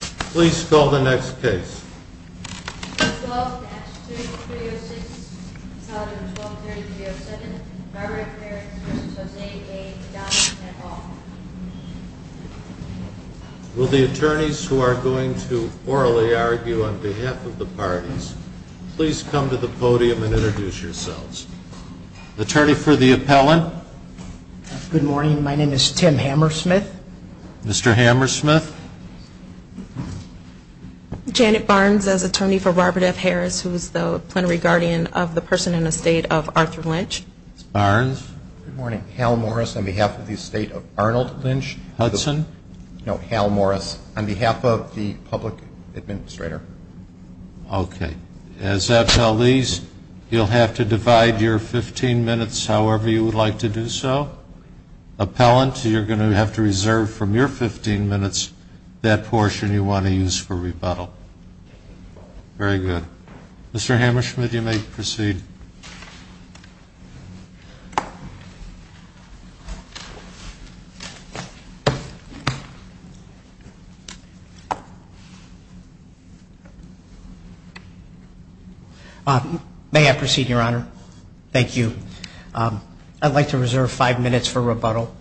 Please call the next case. Will the attorneys who are going to orally argue on behalf of the parties please come to the podium and introduce yourselves. Attorney for the appellant. Good morning. My name is Tim Hammersmith. Mr. Hammersmith. Janet Barnes as attorney for Robert F. Harris, who is the plenary guardian of the person in estate of Arthur Lynch. Barnes. Good morning. Hal Morris on behalf of the estate of Arnold Lynch Hudson. No, Hal Morris on behalf of the public administrator. Okay. As appellees, you'll have to divide your 15 minutes however you would like to do so. Appellant, you're going to have to reserve from your 15 minutes that portion you want to use for rebuttal. Very good. Mr. Hammersmith, you may proceed. May I proceed, Your Honor? Thank you. I'd like to reserve five minutes for rebuttal.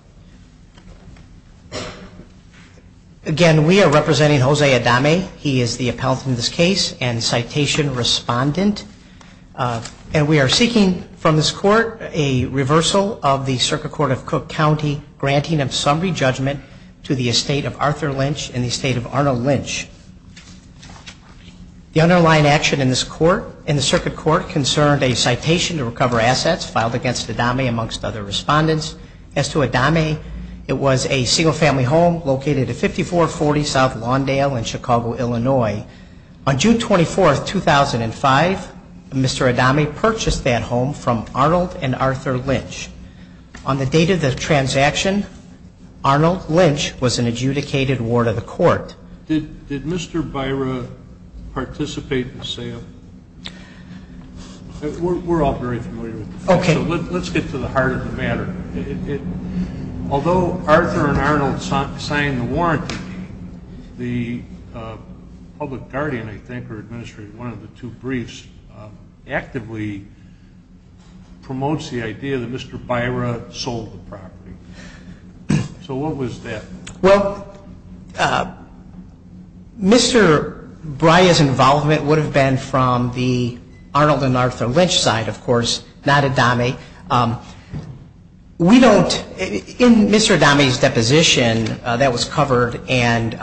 Again, we are representing Jose Adame. He is the appellant in this case and citation respondent. And we are seeking from this court a reversal of the Circuit Court of Cook County granting of summary judgment to the estate of Arthur Lynch and the estate of Arnold Lynch. The underlying action in this court, in the Circuit Court, concerned a citation to recover assets filed against Adame amongst other respondents. As to Adame, it was a single-family home located at 5440 South Lawndale in Chicago, Illinois. On June 24, 2005, Mr. Adame purchased that home from Arnold and Arthur Lynch. On the date of the transaction, Arnold Lynch was an adjudicated ward of the court. Did Mr. Byra participate in the sale? We're all very familiar with the facts, so let's get to the heart of the matter. Although Arthur and Arnold signed the warranty, the public guardian, I think, or administrator of one of the two briefs, actively promotes the idea that Mr. Byra sold the property. So what was that? Well, Mr. Byra's involvement would have been from the Arnold and Arthur Lynch side, of course, not Adame. We don't – in Mr. Adame's deposition, that was covered. And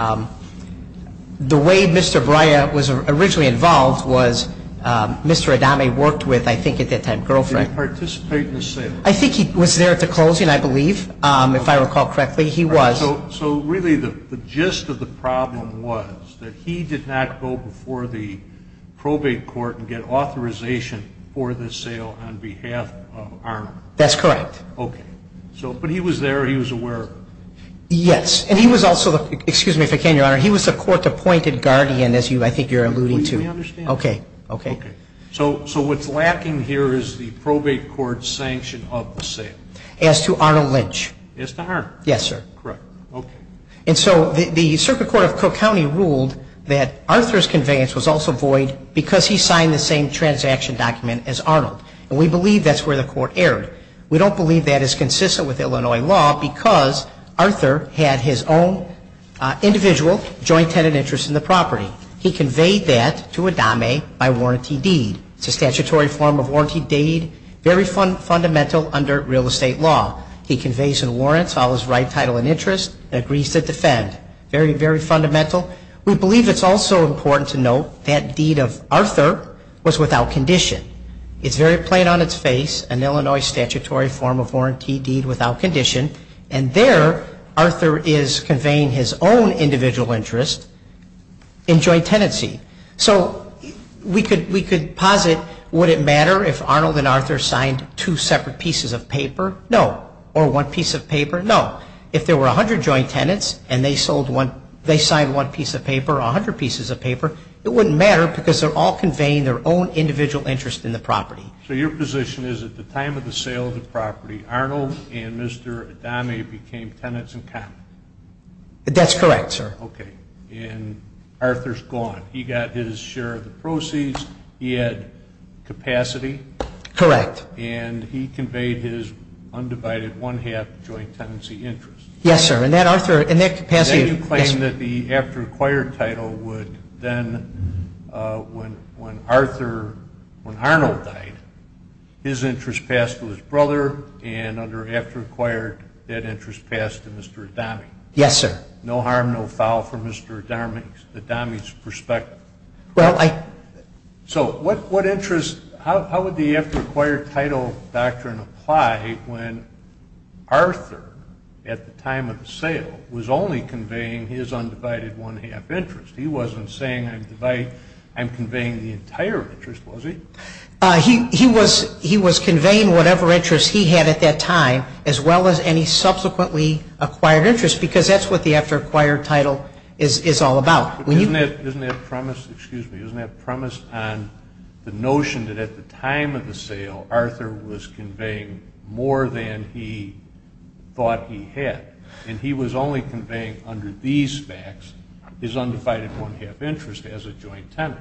the way Mr. Byra was originally involved was Mr. Adame worked with, I think at that time, girlfriend. Did he participate in the sale? I think he was there at the closing, I believe, if I recall correctly. He was. So really the gist of the problem was that he did not go before the probate court and get authorization for the sale on behalf of Arnold. That's correct. Okay. So – but he was there, he was aware of it. Yes. And he was also the – excuse me if I can, Your Honor – he was the court-appointed guardian, as I think you're alluding to. Would you let me understand that? Okay. Okay. Okay. So what's lacking here is the probate court's sanction of the sale. As to Arnold Lynch. As to Arnold. Yes, sir. Correct. Okay. And so the circuit court of Cook County ruled that Arthur's conveyance was also void because he signed the same transaction document as Arnold. And we believe that's where the court erred. We don't believe that is consistent with Illinois law because Arthur had his own individual joint tenant interest in the property. He conveyed that to Adame by warranty deed. It's a statutory form of warranty deed, very fundamental under real estate law. He conveys and warrants all his right, title, and interest and agrees to defend. Very, very fundamental. We believe it's also important to note that deed of Arthur was without condition. It's very plain on its face, an Illinois statutory form of warranty deed without condition, and there Arthur is conveying his own individual interest in joint tenancy. So we could – we could posit would it matter if Arnold and Arthur signed two separate pieces of paper? No. Or one piece of paper? No. If there were 100 joint tenants and they sold one – they signed one piece of paper or 100 pieces of paper, it wouldn't matter because they're all conveying their own individual interest in the property. So your position is at the time of the sale of the property, Arnold and Mr. Adame became tenants in common? That's correct, sir. Okay. And Arthur's gone. He got his share of the proceeds. He had capacity. Correct. And he conveyed his undivided one-half joint tenancy interest. Yes, sir. And that Arthur – and that capacity – yes. Then you claim that the after acquired title would then, when Arthur – when Arnold died, his interest passed to his brother, and under after acquired, that interest passed to Mr. Adame. Yes, sir. No harm, no foul for Mr. Adame's perspective. Well, I – So what interest – how would the after acquired title doctrine apply when Arthur, at the time of the sale, was only conveying his undivided one-half interest? He wasn't saying I'm conveying the entire interest, was he? He was conveying whatever interest he had at that time as well as any subsequently acquired interest because that's what the after acquired title is all about. Isn't that premise – excuse me – isn't that premise on the notion that at the time of the sale, Arthur was conveying more than he thought he had, and he was only conveying under these facts his undivided one-half interest as a joint tenant?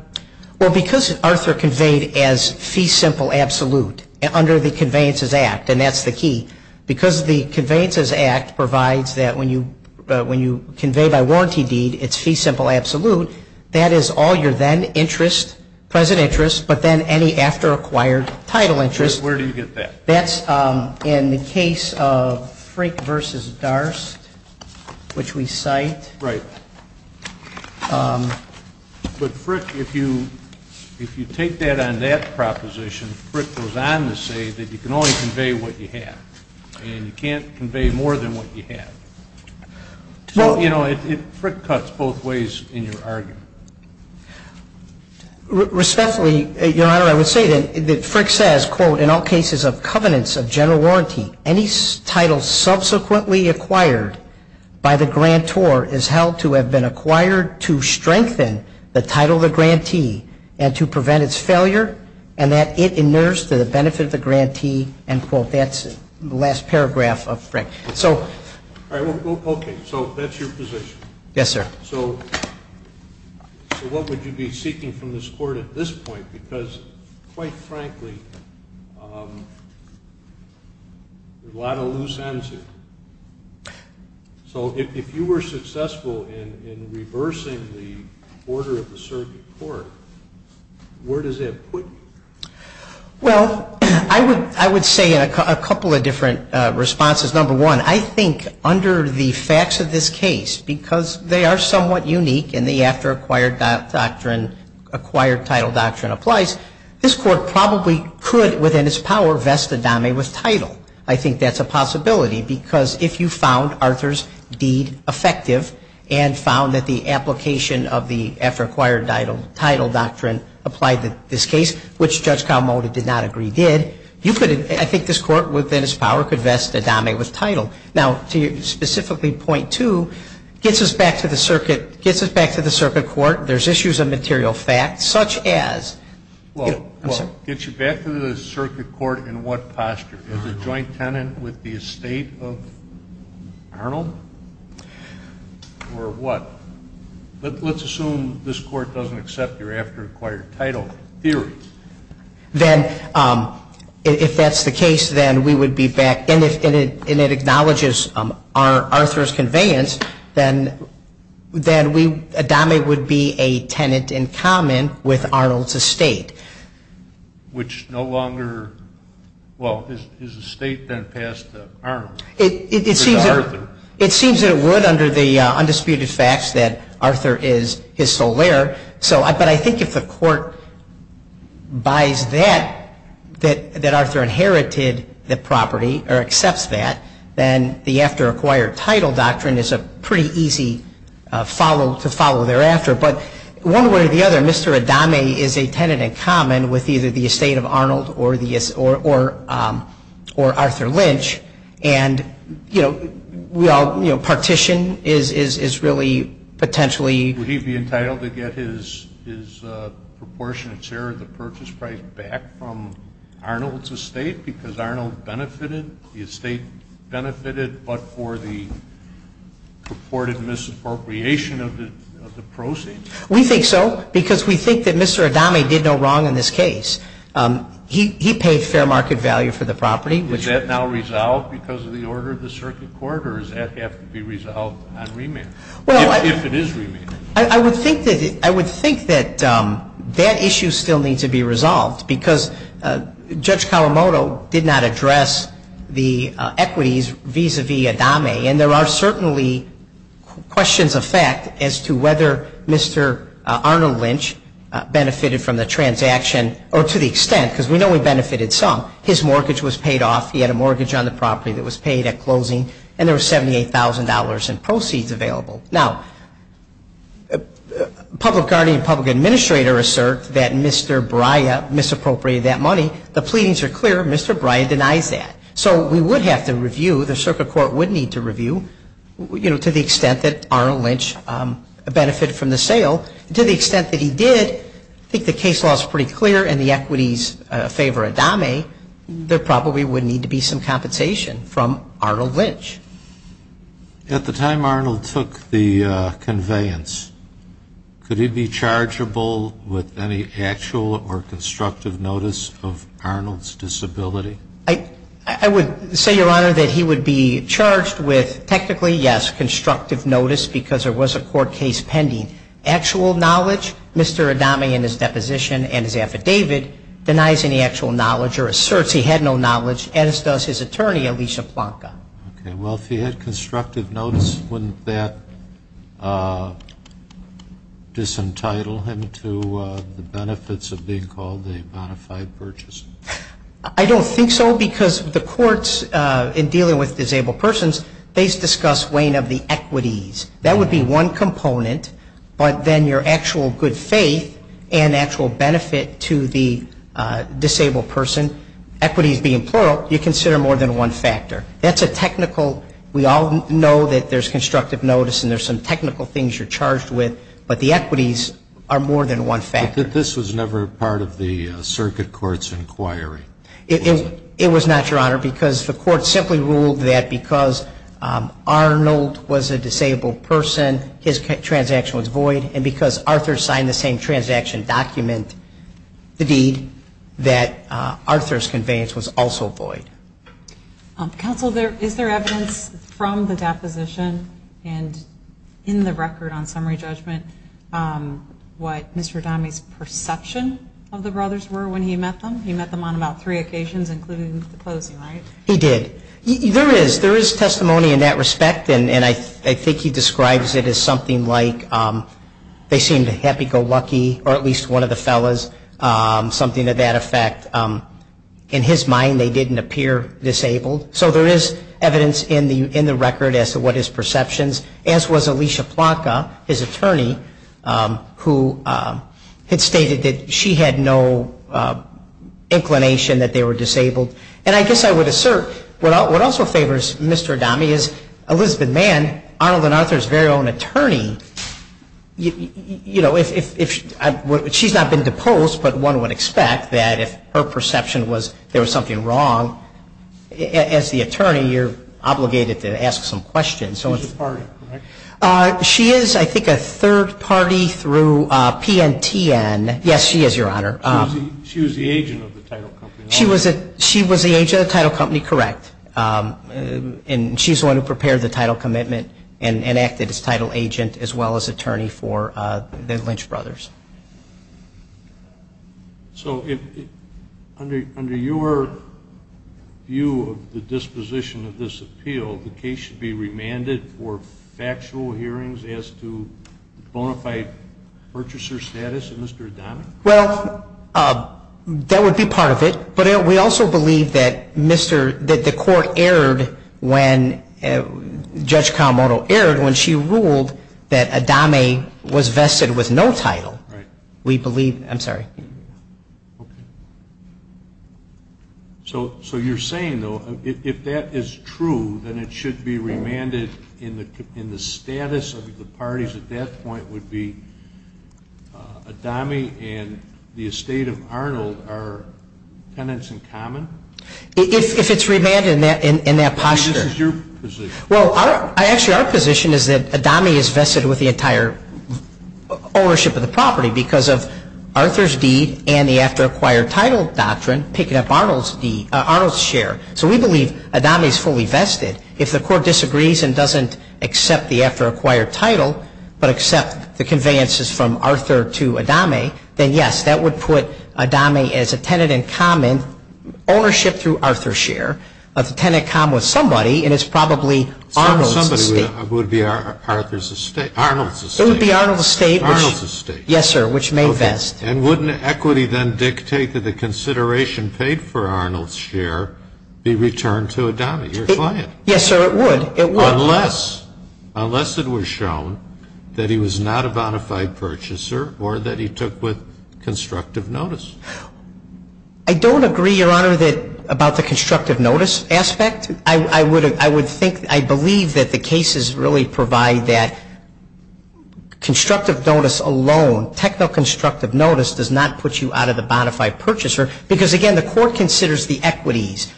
Well, because Arthur conveyed as fee simple absolute under the Conveyances Act, and that's the key, because the Conveyances Act provides that when you convey by warranty deed, it's fee simple absolute, that is all your then interest, present interest, but then any after acquired title interest. Where do you get that? That's in the case of Frick v. Darst, which we cite. Right. But Frick, if you take that on that proposition, Frick goes on to say that you can only convey what you have, and you can't convey more than what you have. So, you know, Frick cuts both ways in your argument. Respectfully, Your Honor, I would say that Frick says, quote, in all cases of covenants of general warranty, any title subsequently acquired by the grantor is held to have been acquired to strengthen the title of the grantee and to prevent its failure and that it inures to the benefit of the grantee, end quote. That's the last paragraph of Frick. All right. Okay. So that's your position. Yes, sir. So what would you be seeking from this Court at this point? Because, quite frankly, there are a lot of loose ends here. So if you were successful in reversing the order of the circuit court, where does that put you? Well, I would say a couple of different responses. Number one, I think under the facts of this case, because they are somewhat unique in the after-acquired doctrine, acquired title doctrine applies, this Court probably could, within its power, vest a dame with title. I think that's a possibility, because if you found Arthur's deed effective and found that the application of the after-acquired title doctrine applied to this case, which Judge Kawamoto did not agree did, you could, I think this Court, within its power, could vest a dame with title. Now, to specifically point two, gets us back to the circuit court, there's issues of material fact, such as, I'm sorry. Gets you back to the circuit court in what posture? As a joint tenant with the estate of Arnold? Or what? Let's assume this Court doesn't accept your after-acquired title theory. Then, if that's the case, then we would be back, and it acknowledges Arthur's conveyance, then a dame would be a tenant in common with Arnold's estate. Which no longer, well, his estate then passed to Arnold. It seems that it would under the undisputed facts that Arthur is his sole heir. But I think if the Court buys that, that Arthur inherited the property, or accepts that, then the after-acquired title doctrine is a pretty easy to follow thereafter. But one way or the other, Mr. Adame is a tenant in common with either the estate of Arnold or Arthur Lynch. And, you know, partition is really potentially. Would he be entitled to get his proportionate share of the purchase price back from Arnold's estate? Because Arnold benefited, the estate benefited, but for the purported misappropriation of the proceeds. We think so, because we think that Mr. Adame did no wrong in this case. He paid fair market value for the property. Is that now resolved because of the order of the circuit court? Or does that have to be resolved on remand, if it is remanded? I would think that that issue still needs to be resolved, because Judge Kawamoto did not address the equities vis-à-vis Adame. And there are certainly questions of fact as to whether Mr. Arnold Lynch benefited from the transaction, or to the extent, because we know he benefited some. His mortgage was paid off. He had a mortgage on the property that was paid at closing. And there was $78,000 in proceeds available. Now, public guardian and public administrator assert that Mr. Braia misappropriated that money. The pleadings are clear. Mr. Braia denies that. So we would have to review, the circuit court would need to review, you know, to the extent that Arnold Lynch benefited from the sale. To the extent that he did, I think the case law is pretty clear, and the equities favor Adame. There probably would need to be some compensation from Arnold Lynch. At the time Arnold took the conveyance, could he be chargeable with any actual or constructive notice of Arnold's disability? I would say, Your Honor, that he would be charged with technically, yes, constructive notice, because there was a court case pending. Actual knowledge, Mr. Adame in his deposition and his affidavit denies any actual knowledge or asserts he had no knowledge, as does his attorney, Alicia Plonka. Okay. Well, if he had constructive notice, wouldn't that disentitle him to the benefits of being called a bona fide purchaser? I don't think so, because the courts, in dealing with disabled persons, they discuss weighing of the equities. That would be one component, but then your actual good faith and actual benefit to the disabled person, equities being plural, you consider more than one factor. That's a technical, we all know that there's constructive notice and there's some technical things you're charged with, but the equities are more than one factor. But this was never part of the circuit court's inquiry, was it? It was not, Your Honor, because the court simply ruled that because Arnold was a disabled person, his transaction was void, and because Arthur signed the same transaction document, the deed, that Arthur's conveyance was also void. Counsel, is there evidence from the deposition and in the record on summary judgment what Mr. Dahme's perception of the brothers were when he met them? He met them on about three occasions, including the closing, right? He did. There is testimony in that respect, and I think he describes it as something like they seemed happy-go-lucky, or at least one of the fellas, something to that effect. In his mind, they didn't appear disabled. So there is evidence in the record as to what his perceptions, as was Alicia Plaka, his attorney, who had stated that she had no inclination that they were disabled. And I guess I would assert what also favors Mr. Dahme is Elizabeth Mann, and Arnold and Arthur's very own attorney. You know, she's not been deposed, but one would expect that if her perception was there was something wrong, as the attorney, you're obligated to ask some questions. She's a third party, correct? She is, I think, a third party through PNTN. Yes, she is, Your Honor. She was the agent of the title company, right? She was the agent of the title company, correct. And she's the one who prepared the title commitment and acted as title agent as well as attorney for the Lynch brothers. So under your view of the disposition of this appeal, the case should be remanded for factual hearings as to bona fide purchaser status of Mr. Dahme? Well, that would be part of it. But we also believe that the court erred when Judge Kawamoto erred when she ruled that Dahme was vested with no title. Right. We believe, I'm sorry. Okay. So you're saying, though, if that is true, then it should be remanded in the status of the parties at that point would be Dahme and the estate of Arnold are tenants in common? If it's remanded in that posture. This is your position. Well, actually, our position is that Dahme is vested with the entire ownership of the property because of Arthur's deed and the after-acquired title doctrine, picking up Arnold's share. So we believe Dahme is fully vested. If the court disagrees and doesn't accept the after-acquired title but accept the conveyances from Arthur to Dahme, then, yes, that would put Dahme as a tenant in common, ownership through Arthur's share, a tenant in common with somebody, and it's probably Arnold's estate. Somebody would be Arnold's estate. It would be Arnold's estate. Arnold's estate. Yes, sir, which may vest. Okay. And wouldn't equity then dictate that the consideration paid for Arnold's share be returned to Dahme? You're trying it. Yes, sir, it would. It would. Unless it was shown that he was not a bona fide purchaser or that he took with constructive notice. I don't agree, Your Honor, about the constructive notice aspect. I would think, I believe that the cases really provide that constructive notice alone, technical constructive notice does not put you out of the bona fide purchaser because, again, the court considers the equities.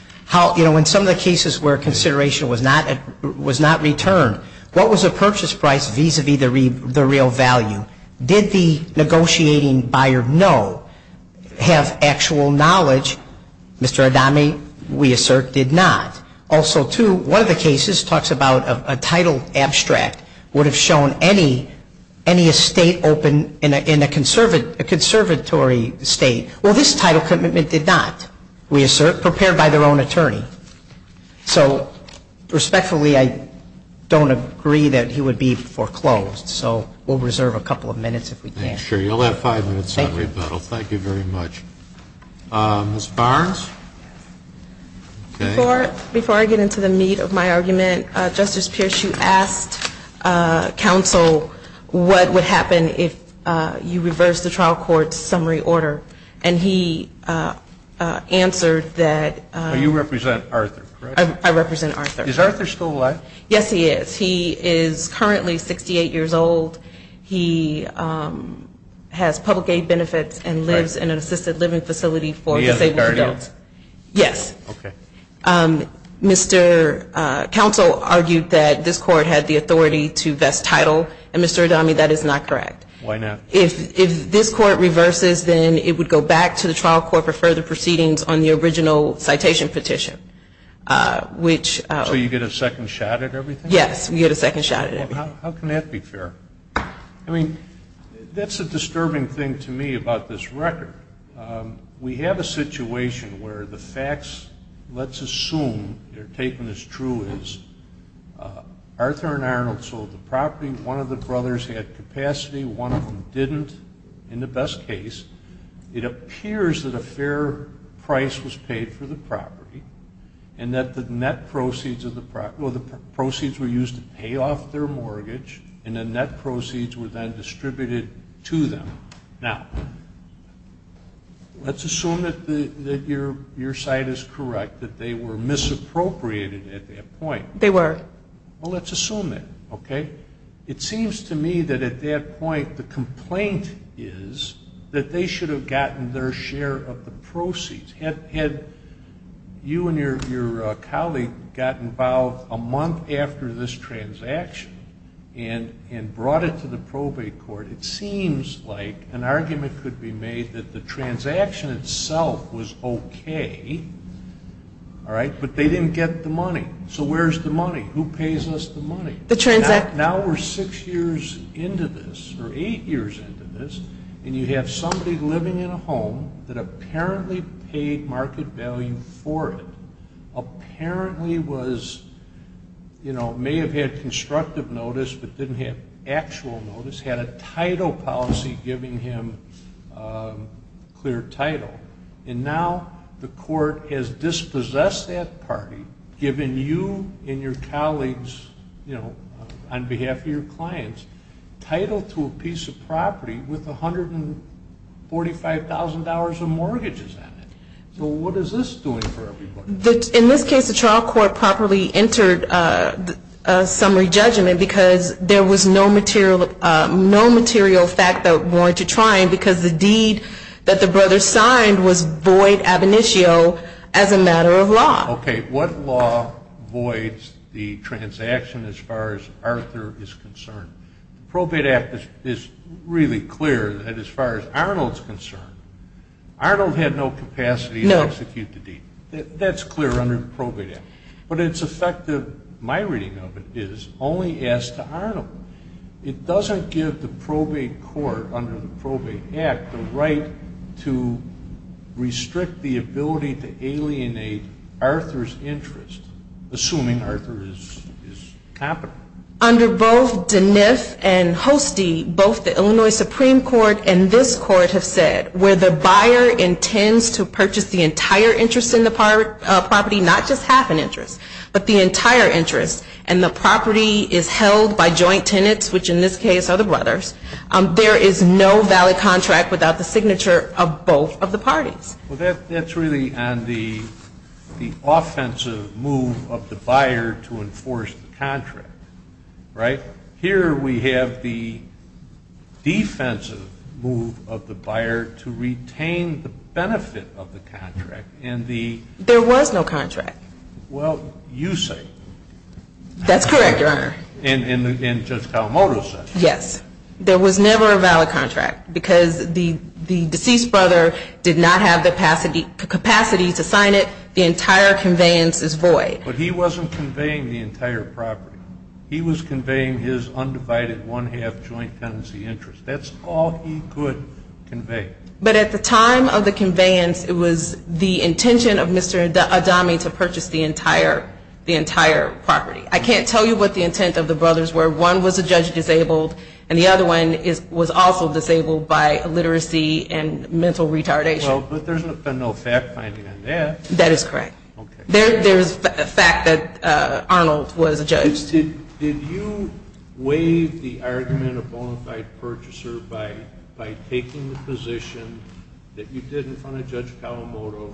In some of the cases where consideration was not returned, what was the purchase price vis-a-vis the real value? Did the negotiating buyer know, have actual knowledge? Mr. Dahme, we assert, did not. Also, too, one of the cases talks about a title abstract would have shown any estate open in a conservatory state. Well, this title commitment did not, we assert, prepared by their own attorney. So, respectfully, I don't agree that he would be foreclosed. So we'll reserve a couple of minutes if we can. Sure. You'll have five minutes on rebuttal. Thank you. Thank you very much. Ms. Barnes? Before I get into the meat of my argument, Justice Pierce, you asked counsel what would happen if you reversed the trial court's summary order, and he answered that you represent Arthur, correct? I represent Arthur. Is Arthur still alive? Yes, he is. He is currently 68 years old. He has public aid benefits and lives in an assisted living facility for disabled adults. He is a guardian? Yes. Okay. Mr. Counsel argued that this court had the authority to vest title, and, Mr. Dahme, that is not correct. Why not? If this court reverses, then it would go back to the trial court for further proceedings on the original citation petition, which ---- So you get a second shot at everything? Yes, we get a second shot at everything. How can that be fair? I mean, that's a disturbing thing to me about this record. We have a situation where the facts, let's assume they're taken as true as Arthur and Arnold sold the property, one of the brothers had capacity, one of them didn't, in the best case. It appears that a fair price was paid for the property, and that the net proceeds were used to pay off their mortgage, and the net proceeds were then distributed to them. Now, let's assume that your side is correct, that they were misappropriated at that point. They were. Well, let's assume it, okay? It seems to me that at that point the complaint is that they should have gotten their share of the proceeds. Had you and your colleague gotten involved a month after this transaction and brought it to the probate court, it seems like an argument could be made that the transaction itself was okay, all right, but they didn't get the money. So where's the money? Who pays us the money? Now we're six years into this, or eight years into this, and you have somebody living in a home that apparently paid market value for it, apparently was, you know, may have had constructive notice but didn't have actual notice, had a title policy giving him clear title, and now the court has dispossessed that party, given you and your colleagues, you know, on behalf of your clients, title to a piece of property with $145,000 of mortgages on it. So what is this doing for everybody? In this case, the trial court properly entered a summary judgment because there was no material fact that warranted trying because the deed that the brothers signed was void ab initio as a matter of law. Okay, what law voids the transaction as far as Arthur is concerned? The probate act is really clear that as far as Arnold's concerned, Arnold had no capacity to execute the deed. That's clear under the probate act. But it's effective, my reading of it is, only as to Arnold. It doesn't give the probate court under the probate act the right to restrict the ability to alienate Arthur's interest, assuming Arthur is capital. Under both Denef and Hostie, both the Illinois Supreme Court and this court have said where the buyer intends to purchase the entire interest in the property, not just half an interest, but the entire interest, and the property is held by joint tenants, which in this case are the brothers, there is no valid contract without the signature of both of the parties. Well, that's really on the offensive move of the buyer to enforce the contract. Right? Here we have the defensive move of the buyer to retain the benefit of the contract. There was no contract. Well, you say. That's correct, Your Honor. And Judge Kalamoto says. Yes. There was never a valid contract because the deceased brother did not have the capacity to sign it. The entire conveyance is void. But he wasn't conveying the entire property. He was conveying his undivided one-half joint tenancy interest. That's all he could convey. But at the time of the conveyance, it was the intention of Mr. Adami to purchase the entire property. I can't tell you what the intent of the brothers were. One was a judge disabled, and the other one was also disabled by illiteracy and mental retardation. Well, but there's been no fact-finding on that. That is correct. There is fact that Arnold was a judge. Did you waive the argument of bona fide purchaser by taking the position that you did in front of Judge Kalamoto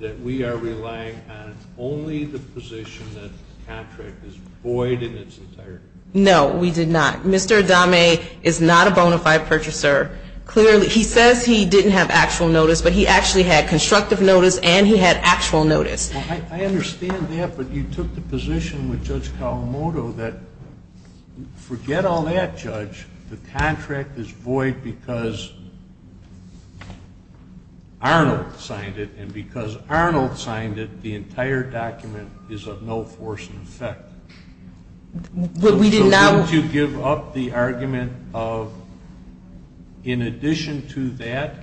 that we are relying on only the position that the contract is void in its entirety? No, we did not. Mr. Adami is not a bona fide purchaser. Clearly, he says he didn't have actual notice, but he actually had constructive notice and he had actual notice. Well, I understand that, but you took the position with Judge Kalamoto that forget all that, Judge. The contract is void because Arnold signed it. And because Arnold signed it, the entire document is of no force in effect. But we did not. Don't you give up the argument of in addition to that,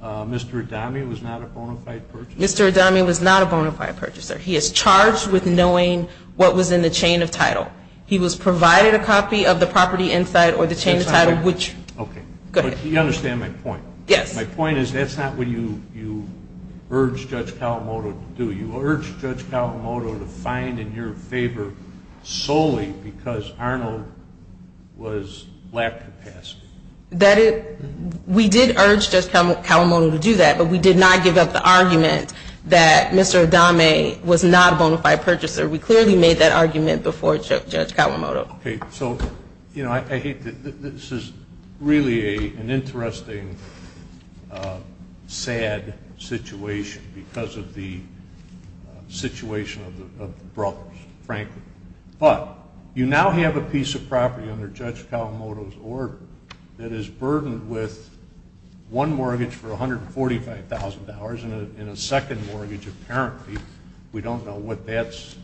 Mr. Adami was not a bona fide purchaser? Mr. Adami was not a bona fide purchaser. He is charged with knowing what was in the chain of title. He was provided a copy of the property insight or the chain of title which. Okay. Go ahead. But you understand my point. Yes. My point is that's not what you urged Judge Kalamoto to do. You urged Judge Kalamoto to find in your favor solely because Arnold was lack of capacity. We did urge Judge Kalamoto to do that, but we did not give up the argument that Mr. Adami was not a bona fide purchaser. We clearly made that argument before Judge Kalamoto. Okay. So, you know, I hate to ‑‑ this is really an interesting sad situation because of the situation of the brothers, frankly. But you now have a piece of property under Judge Kalamoto's order that is burdened with one mortgage for $145,000 and a second mortgage apparently. We don't know what that's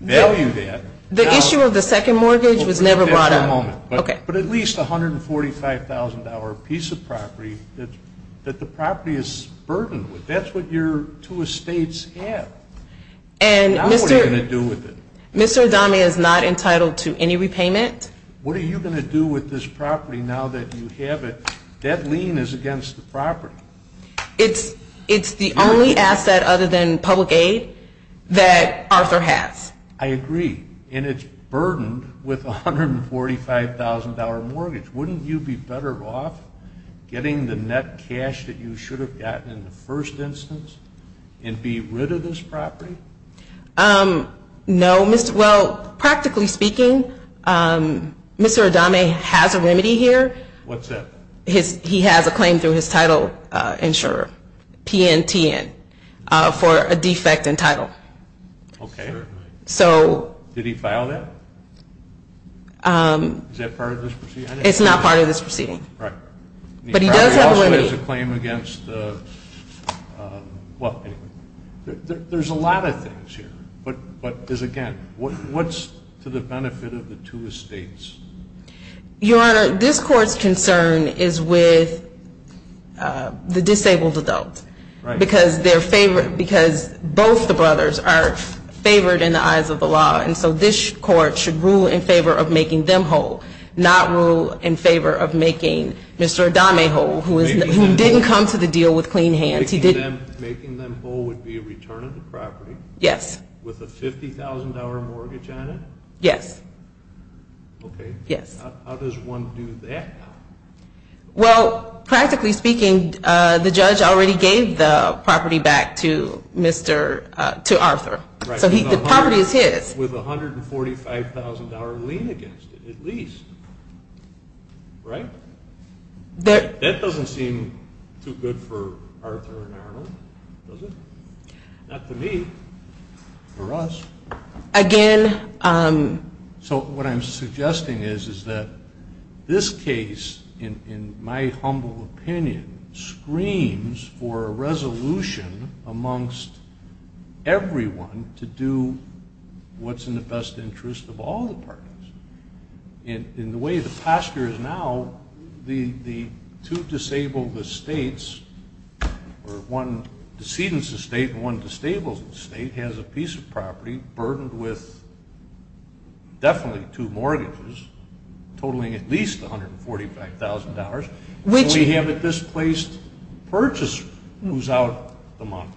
valued at. The issue of the second mortgage was never brought up. But at least $145,000 piece of property that the property is burdened with. That's what your two estates have. Now what are you going to do with it? Mr. Adami is not entitled to any repayment. What are you going to do with this property now that you have it? That lien is against the property. It's the only asset other than public aid that Arthur has. I agree. And it's burdened with a $145,000 mortgage. Wouldn't you be better off getting the net cash that you should have gotten in the first instance and be rid of this property? No. Well, practically speaking, Mr. Adami has a remedy here. What's that? He has a claim through his title insurer, PNTN, for a defect in title. Okay. Did he file that? Is that part of this proceeding? It's not part of this proceeding. Right. But he does have a remedy. He also has a claim against the, well, there's a lot of things here. But again, what's to the benefit of the two estates? Your Honor, this court's concern is with the disabled adult. Right. Because both the brothers are favored in the eyes of the law, and so this court should rule in favor of making them whole, not rule in favor of making Mr. Adami whole, who didn't come to the deal with clean hands. Making them whole would be a return of the property? Yes. With a $50,000 mortgage on it? Yes. Okay. Yes. How does one do that? Well, practically speaking, the judge already gave the property back to Arthur. So the property is his. With a $145,000 lien against it at least, right? That doesn't seem too good for Arthur and Arnold, does it? Not to me. For us. Again. So what I'm suggesting is that this case, in my humble opinion, screams for a resolution amongst everyone to do what's in the best interest of all the parties. In the way the posture is now, the two disabled estates, or one decedent's estate and one disabled estate has a piece of property burdened with definitely two mortgages, totaling at least $145,000. So we have a displaced purchaser who's out the month.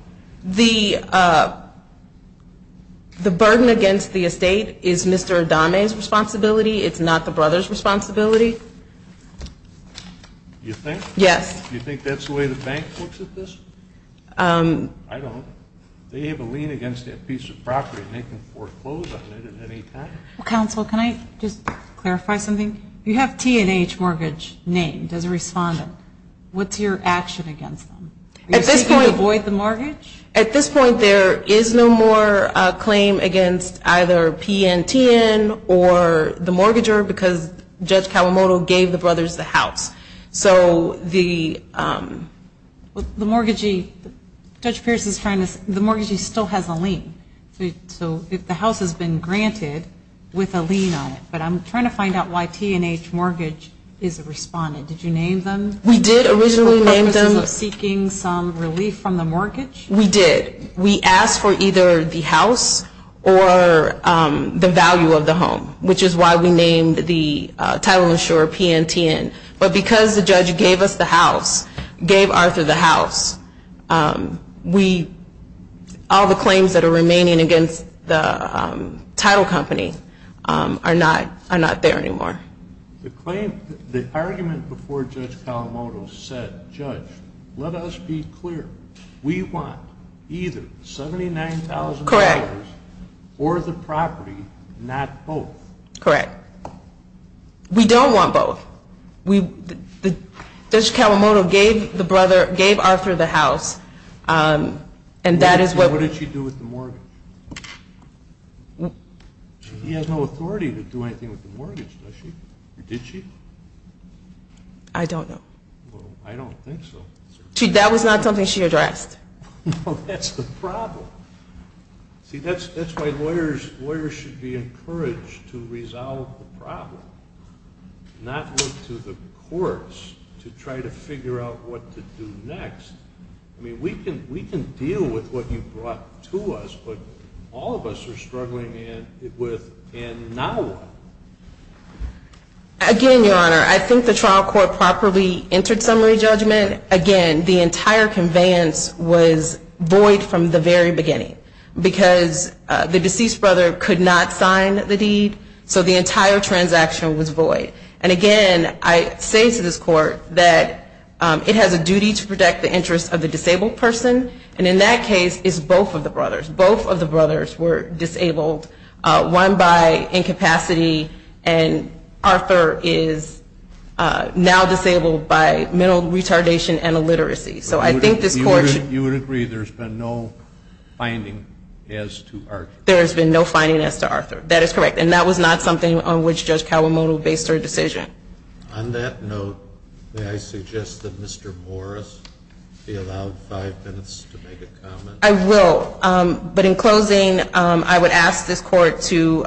The burden against the estate is Mr. Adami's responsibility. It's not the brother's responsibility. You think? Yes. You think that's the way the bank looks at this? I don't. They have a lien against that piece of property and they can foreclose on it at any time. Counsel, can I just clarify something? You have T&H Mortgage named as a respondent. What's your action against them? Are you saying you'll avoid the mortgage? At this point, there is no more claim against either P&T or the mortgager because Judge Kawamoto gave the brothers the house. So the mortgagee still has a lien. So if the house has been granted with a lien on it, but I'm trying to find out why T&H Mortgage is a respondent. Did you name them? We did originally name them. For purposes of seeking some relief from the mortgage? We did. We asked for either the house or the value of the home, which is why we named the title insurer P&T but because the judge gave us the house, gave Arthur the house, all the claims that are remaining against the title company are not there anymore. The argument before Judge Kawamoto said, Judge, let us be clear. We want either $79,000 or the property, not both. Correct. We don't want both. Judge Kawamoto gave the brother, gave Arthur the house, and that is what. What did she do with the mortgage? She has no authority to do anything with the mortgage, does she, or did she? I don't know. Well, I don't think so. No, that's the problem. See, that's why lawyers should be encouraged to resolve the problem, not look to the courts to try to figure out what to do next. I mean, we can deal with what you brought to us, but all of us are struggling with and now what? Again, Your Honor, I think the trial court properly entered summary judgment. Again, the entire conveyance was void from the very beginning because the deceased brother could not sign the deed, so the entire transaction was void. And again, I say to this court that it has a duty to protect the interests of the disabled person, and in that case it's both of the brothers. Both of the brothers were disabled, one by incapacity, and Arthur is now disabled by mental retardation and illiteracy. So I think this court should You would agree there's been no finding as to Arthur? There has been no finding as to Arthur. That is correct, and that was not something on which Judge Kawamoto based her decision. On that note, may I suggest that Mr. Morris be allowed five minutes to make a comment? I will. But in closing, I would ask this court to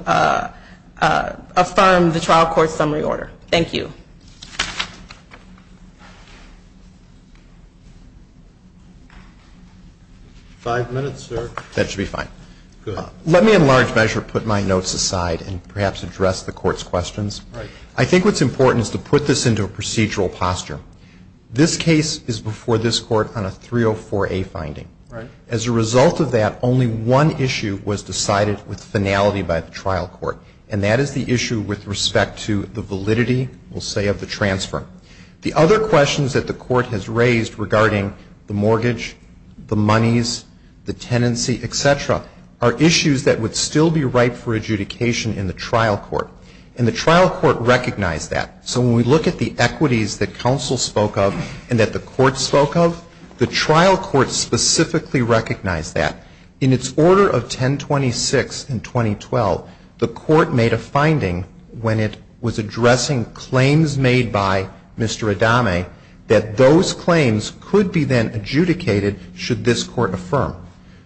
affirm the trial court's summary order. Thank you. Five minutes, sir. That should be fine. Good. Let me in large measure put my notes aside and perhaps address the court's questions. Right. I think what's important is to put this into a procedural posture. This case is before this court on a 304A finding. Right. As a result of that, only one issue was decided with finality by the trial court, and that is the issue with respect to the validity, we'll say, of the transfer. The other questions that the court has raised regarding the mortgage, the monies, the tenancy, et cetera, are issues that would still be ripe for adjudication in the trial court, and the trial court recognized that. So when we look at the equities that counsel spoke of and that the court spoke of, the trial court specifically recognized that. In its order of 1026 in 2012, the court made a finding when it was addressing claims made by Mr. Adame that those claims could be then adjudicated should this court affirm.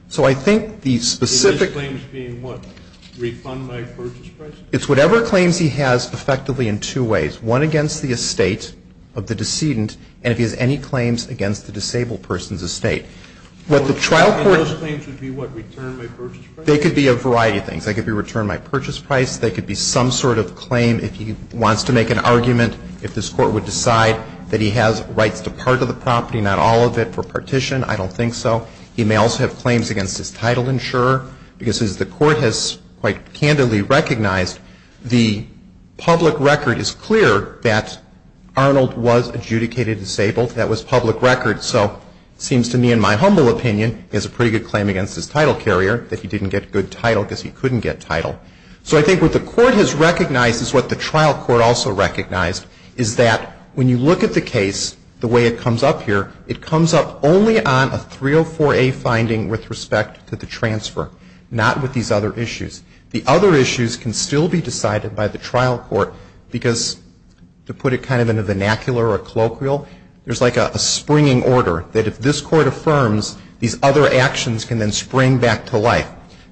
So I think the specific ---- These claims being what? Refund by purchase price? It's whatever claims he has effectively in two ways, one against the estate of the disabled person's estate. What the trial court ---- And those claims would be what? Return by purchase price? They could be a variety of things. They could be return by purchase price. They could be some sort of claim if he wants to make an argument, if this court would decide that he has rights to part of the property, not all of it, for partition. I don't think so. He may also have claims against his title insurer, because as the court has quite candidly recognized, the public record is clear that Arnold was adjudicated disabled. That was public record. So it seems to me, in my humble opinion, he has a pretty good claim against his title carrier that he didn't get good title because he couldn't get title. So I think what the court has recognized is what the trial court also recognized is that when you look at the case the way it comes up here, it comes up only on a 304A finding with respect to the transfer, not with these other issues. The other issues can still be decided by the trial court, because to put it kind of in a vernacular or colloquial, there's like a springing order that if this court affirms, these other actions can then spring back to life.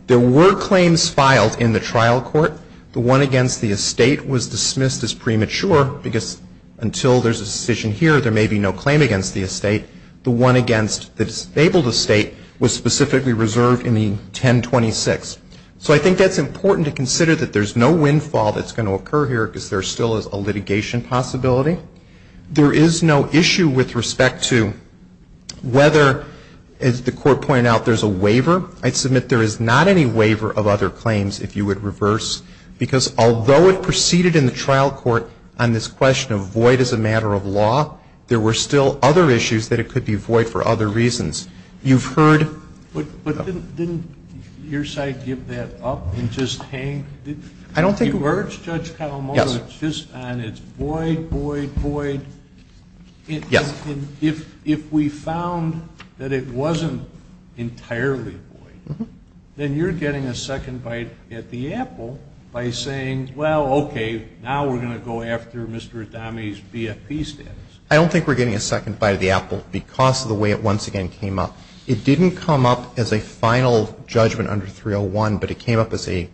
There were claims filed in the trial court. The one against the estate was dismissed as premature, because until there's a decision here, there may be no claim against the estate. The one against the disabled estate was specifically reserved in the 1026. So I think that's important to consider, that there's no windfall that's going to occur here, because there still is a litigation possibility. There is no issue with respect to whether, as the Court pointed out, there's a waiver. I'd submit there is not any waiver of other claims, if you would reverse, because although it proceeded in the trial court on this question of void as a matter of law, there were still other issues that it could be void for other reasons. You've heard of them. But didn't your side give that up and just hang? I don't think we were. You've heard Judge Kalamata just on its void, void, void. Yes. If we found that it wasn't entirely void, then you're getting a second bite at the apple by saying, well, okay, now we're going to go after Mr. Adami's BFP status. I don't think we're getting a second bite at the apple because of the way it once again came up. It didn't come up as a final judgment under 301, but it came up as a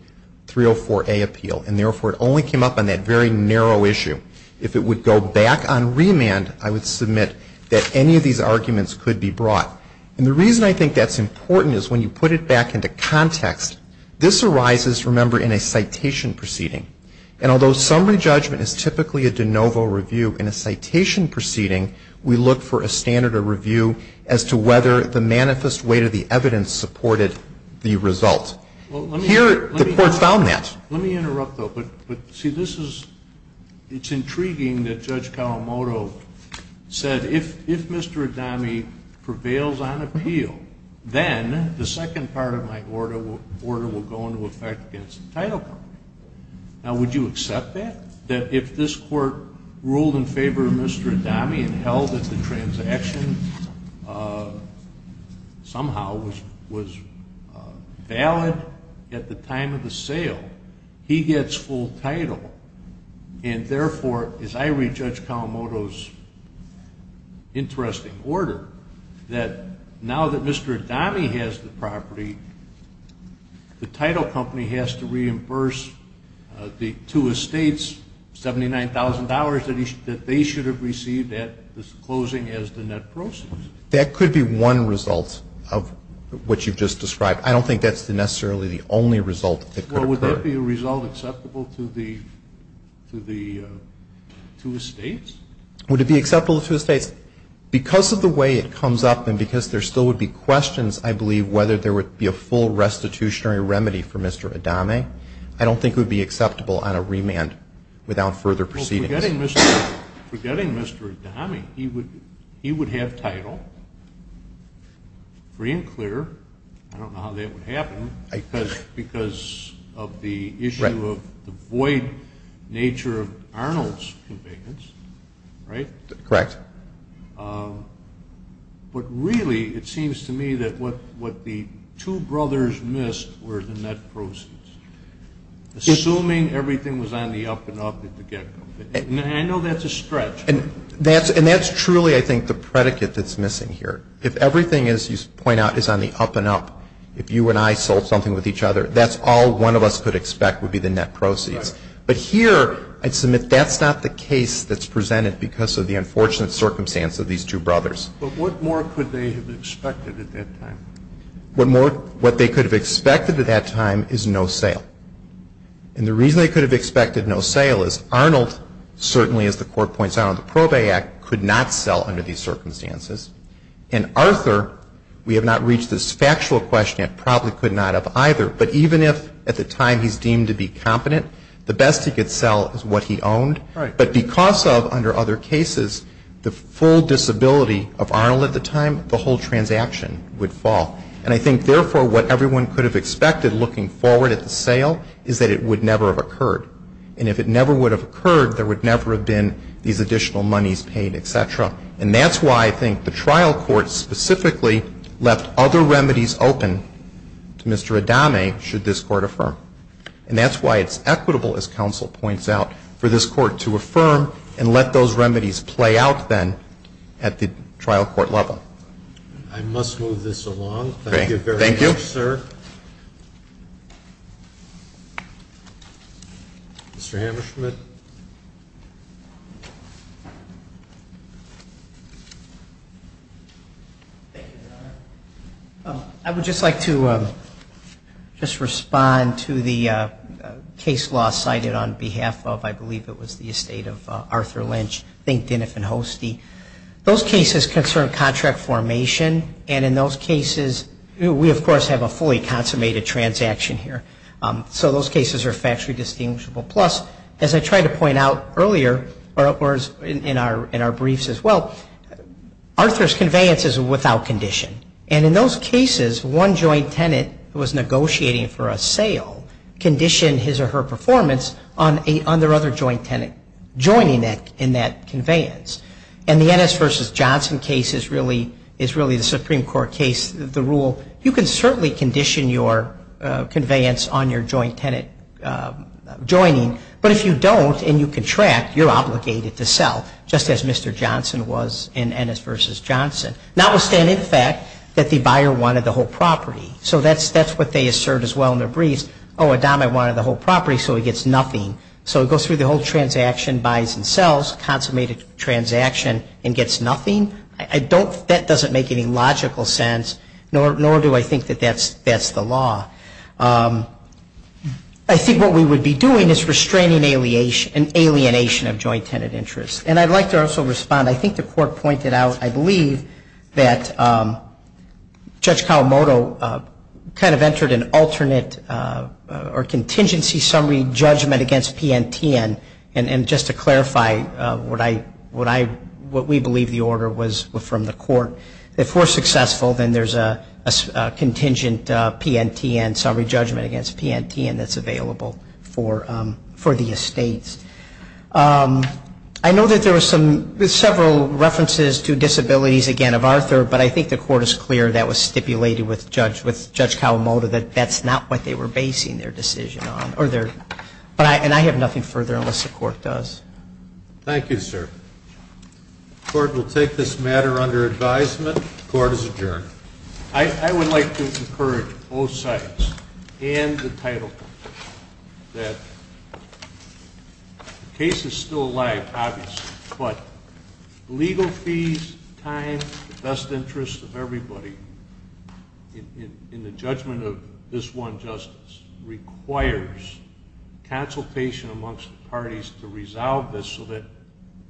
304A appeal, and therefore it only came up on that very narrow issue. If it would go back on remand, I would submit that any of these arguments could be brought. And the reason I think that's important is when you put it back into context, this arises, remember, in a citation proceeding. And although summary judgment is typically a de novo review, in a citation proceeding, we look for a standard of review as to whether the manifest weight of the evidence supported the result. Here, the Court found that. Let me interrupt, though. But, see, this is, it's intriguing that Judge Kalamata said, if Mr. Adami prevails on appeal, then the second part of my order will go into effect against the title party. Now, would you accept that, that if this Court ruled in favor of Mr. Adami and held that the transaction somehow was valid at the time of the sale, he gets full title, and therefore, as I read Judge Kalamata's interesting order, that now that Mr. Adami is in favor of Mr. Adami, would that be acceptable to the two Estates, $79,000 that they should have received at this closing as the net proceeds? That could be one result of what you've just described. I don't think that's necessarily the only result that could occur. Well, would that be a result acceptable to the two Estates? Would it be acceptable to the two Estates? If, because of the way it comes up and because there still would be questions, I believe, whether there would be a full restitutionary remedy for Mr. Adami, I don't think it would be acceptable on a remand without further proceedings. Well, forgetting Mr. Adami, he would have title, free and clear. I don't know how that would happen because of the issue of the void nature of Arnold's vacants, right? Correct. But really, it seems to me that what the two brothers missed were the net proceeds. Assuming everything was on the up and up at the get-go. I know that's a stretch. And that's truly, I think, the predicate that's missing here. If everything, as you point out, is on the up and up, if you and I sold something with each other, that's all one of us could expect would be the net proceeds. Right. But here, I'd submit that's not the case that's presented because of the unfortunate circumstance of these two brothers. But what more could they have expected at that time? What they could have expected at that time is no sale. And the reason they could have expected no sale is Arnold, certainly as the Court points out under the Probate Act, could not sell under these circumstances. And Arthur, we have not reached this factual question yet, probably could not have either. But even if at the time he's deemed to be competent, the best he could sell is what he owned. Right. But because of, under other cases, the full disability of Arnold at the time, the whole transaction would fall. And I think, therefore, what everyone could have expected looking forward at the sale is that it would never have occurred. And if it never would have occurred, there would never have been these additional monies paid, et cetera. And that's why I think the trial court specifically left other remedies open to Mr. Adame, should this Court affirm. And that's why it's equitable, as counsel points out, for this Court to affirm and let those remedies play out then at the trial court level. I must move this along. Thank you very much, sir. Thank you. Mr. Hammerschmidt. Thank you, Your Honor. I would just like to just respond to the case law cited on behalf of, I believe it was the estate of Arthur Lynch, Dink, Diniff, and Hostie. Those cases concern contract formation. And in those cases, we, of course, have a fully consummated transaction here. So those cases are factually distinguishable. Plus, as I tried to point out earlier, or in our briefs as well, Arthur's conveyance is without condition. And in those cases, one joint tenant who was negotiating for a sale conditioned his or her performance on their other joint tenant joining in that conveyance. And the Ennis v. Johnson case is really the Supreme Court case, the rule, you can certainly condition your conveyance on your joint tenant joining. But if you don't and you contract, you're obligated to sell, just as Mr. Johnson was in Ennis v. Johnson, notwithstanding the fact that the buyer wanted the whole property. So that's what they assert as well in their briefs. Oh, Adam, I wanted the whole property, so he gets nothing. So it goes through the whole transaction, buys and sells, consummated transaction, and gets nothing. That doesn't make any logical sense, nor do I think that that's the law. I think what we would be doing is restraining an alienation of joint tenant interest. And I'd like to also respond. I think the Court pointed out, I believe, that Judge Kawamoto kind of entered an alternate or contingency summary judgment against PNTN. And just to clarify, what we believe the order was from the Court, if we're successful, then there's a contingent PNTN, summary judgment against PNTN that's available for the estates. I know that there were several references to disabilities, again, of Arthur, but I think the Court is clear that was stipulated with Judge Kawamoto that that's not what they were basing their decision on. And I have nothing further unless the Court does. Thank you, sir. The Court will take this matter under advisement. The Court is adjourned. I would like to encourage both sides and the title that the case is still alive, obviously, but legal fees, time, the best interests of everybody in the judgment of this one justice requires consultation amongst the parties to resolve this so that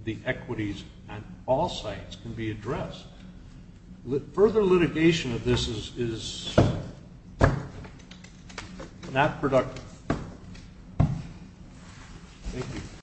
the equities on all sides can be addressed. Further litigation of this is not productive. Thank you.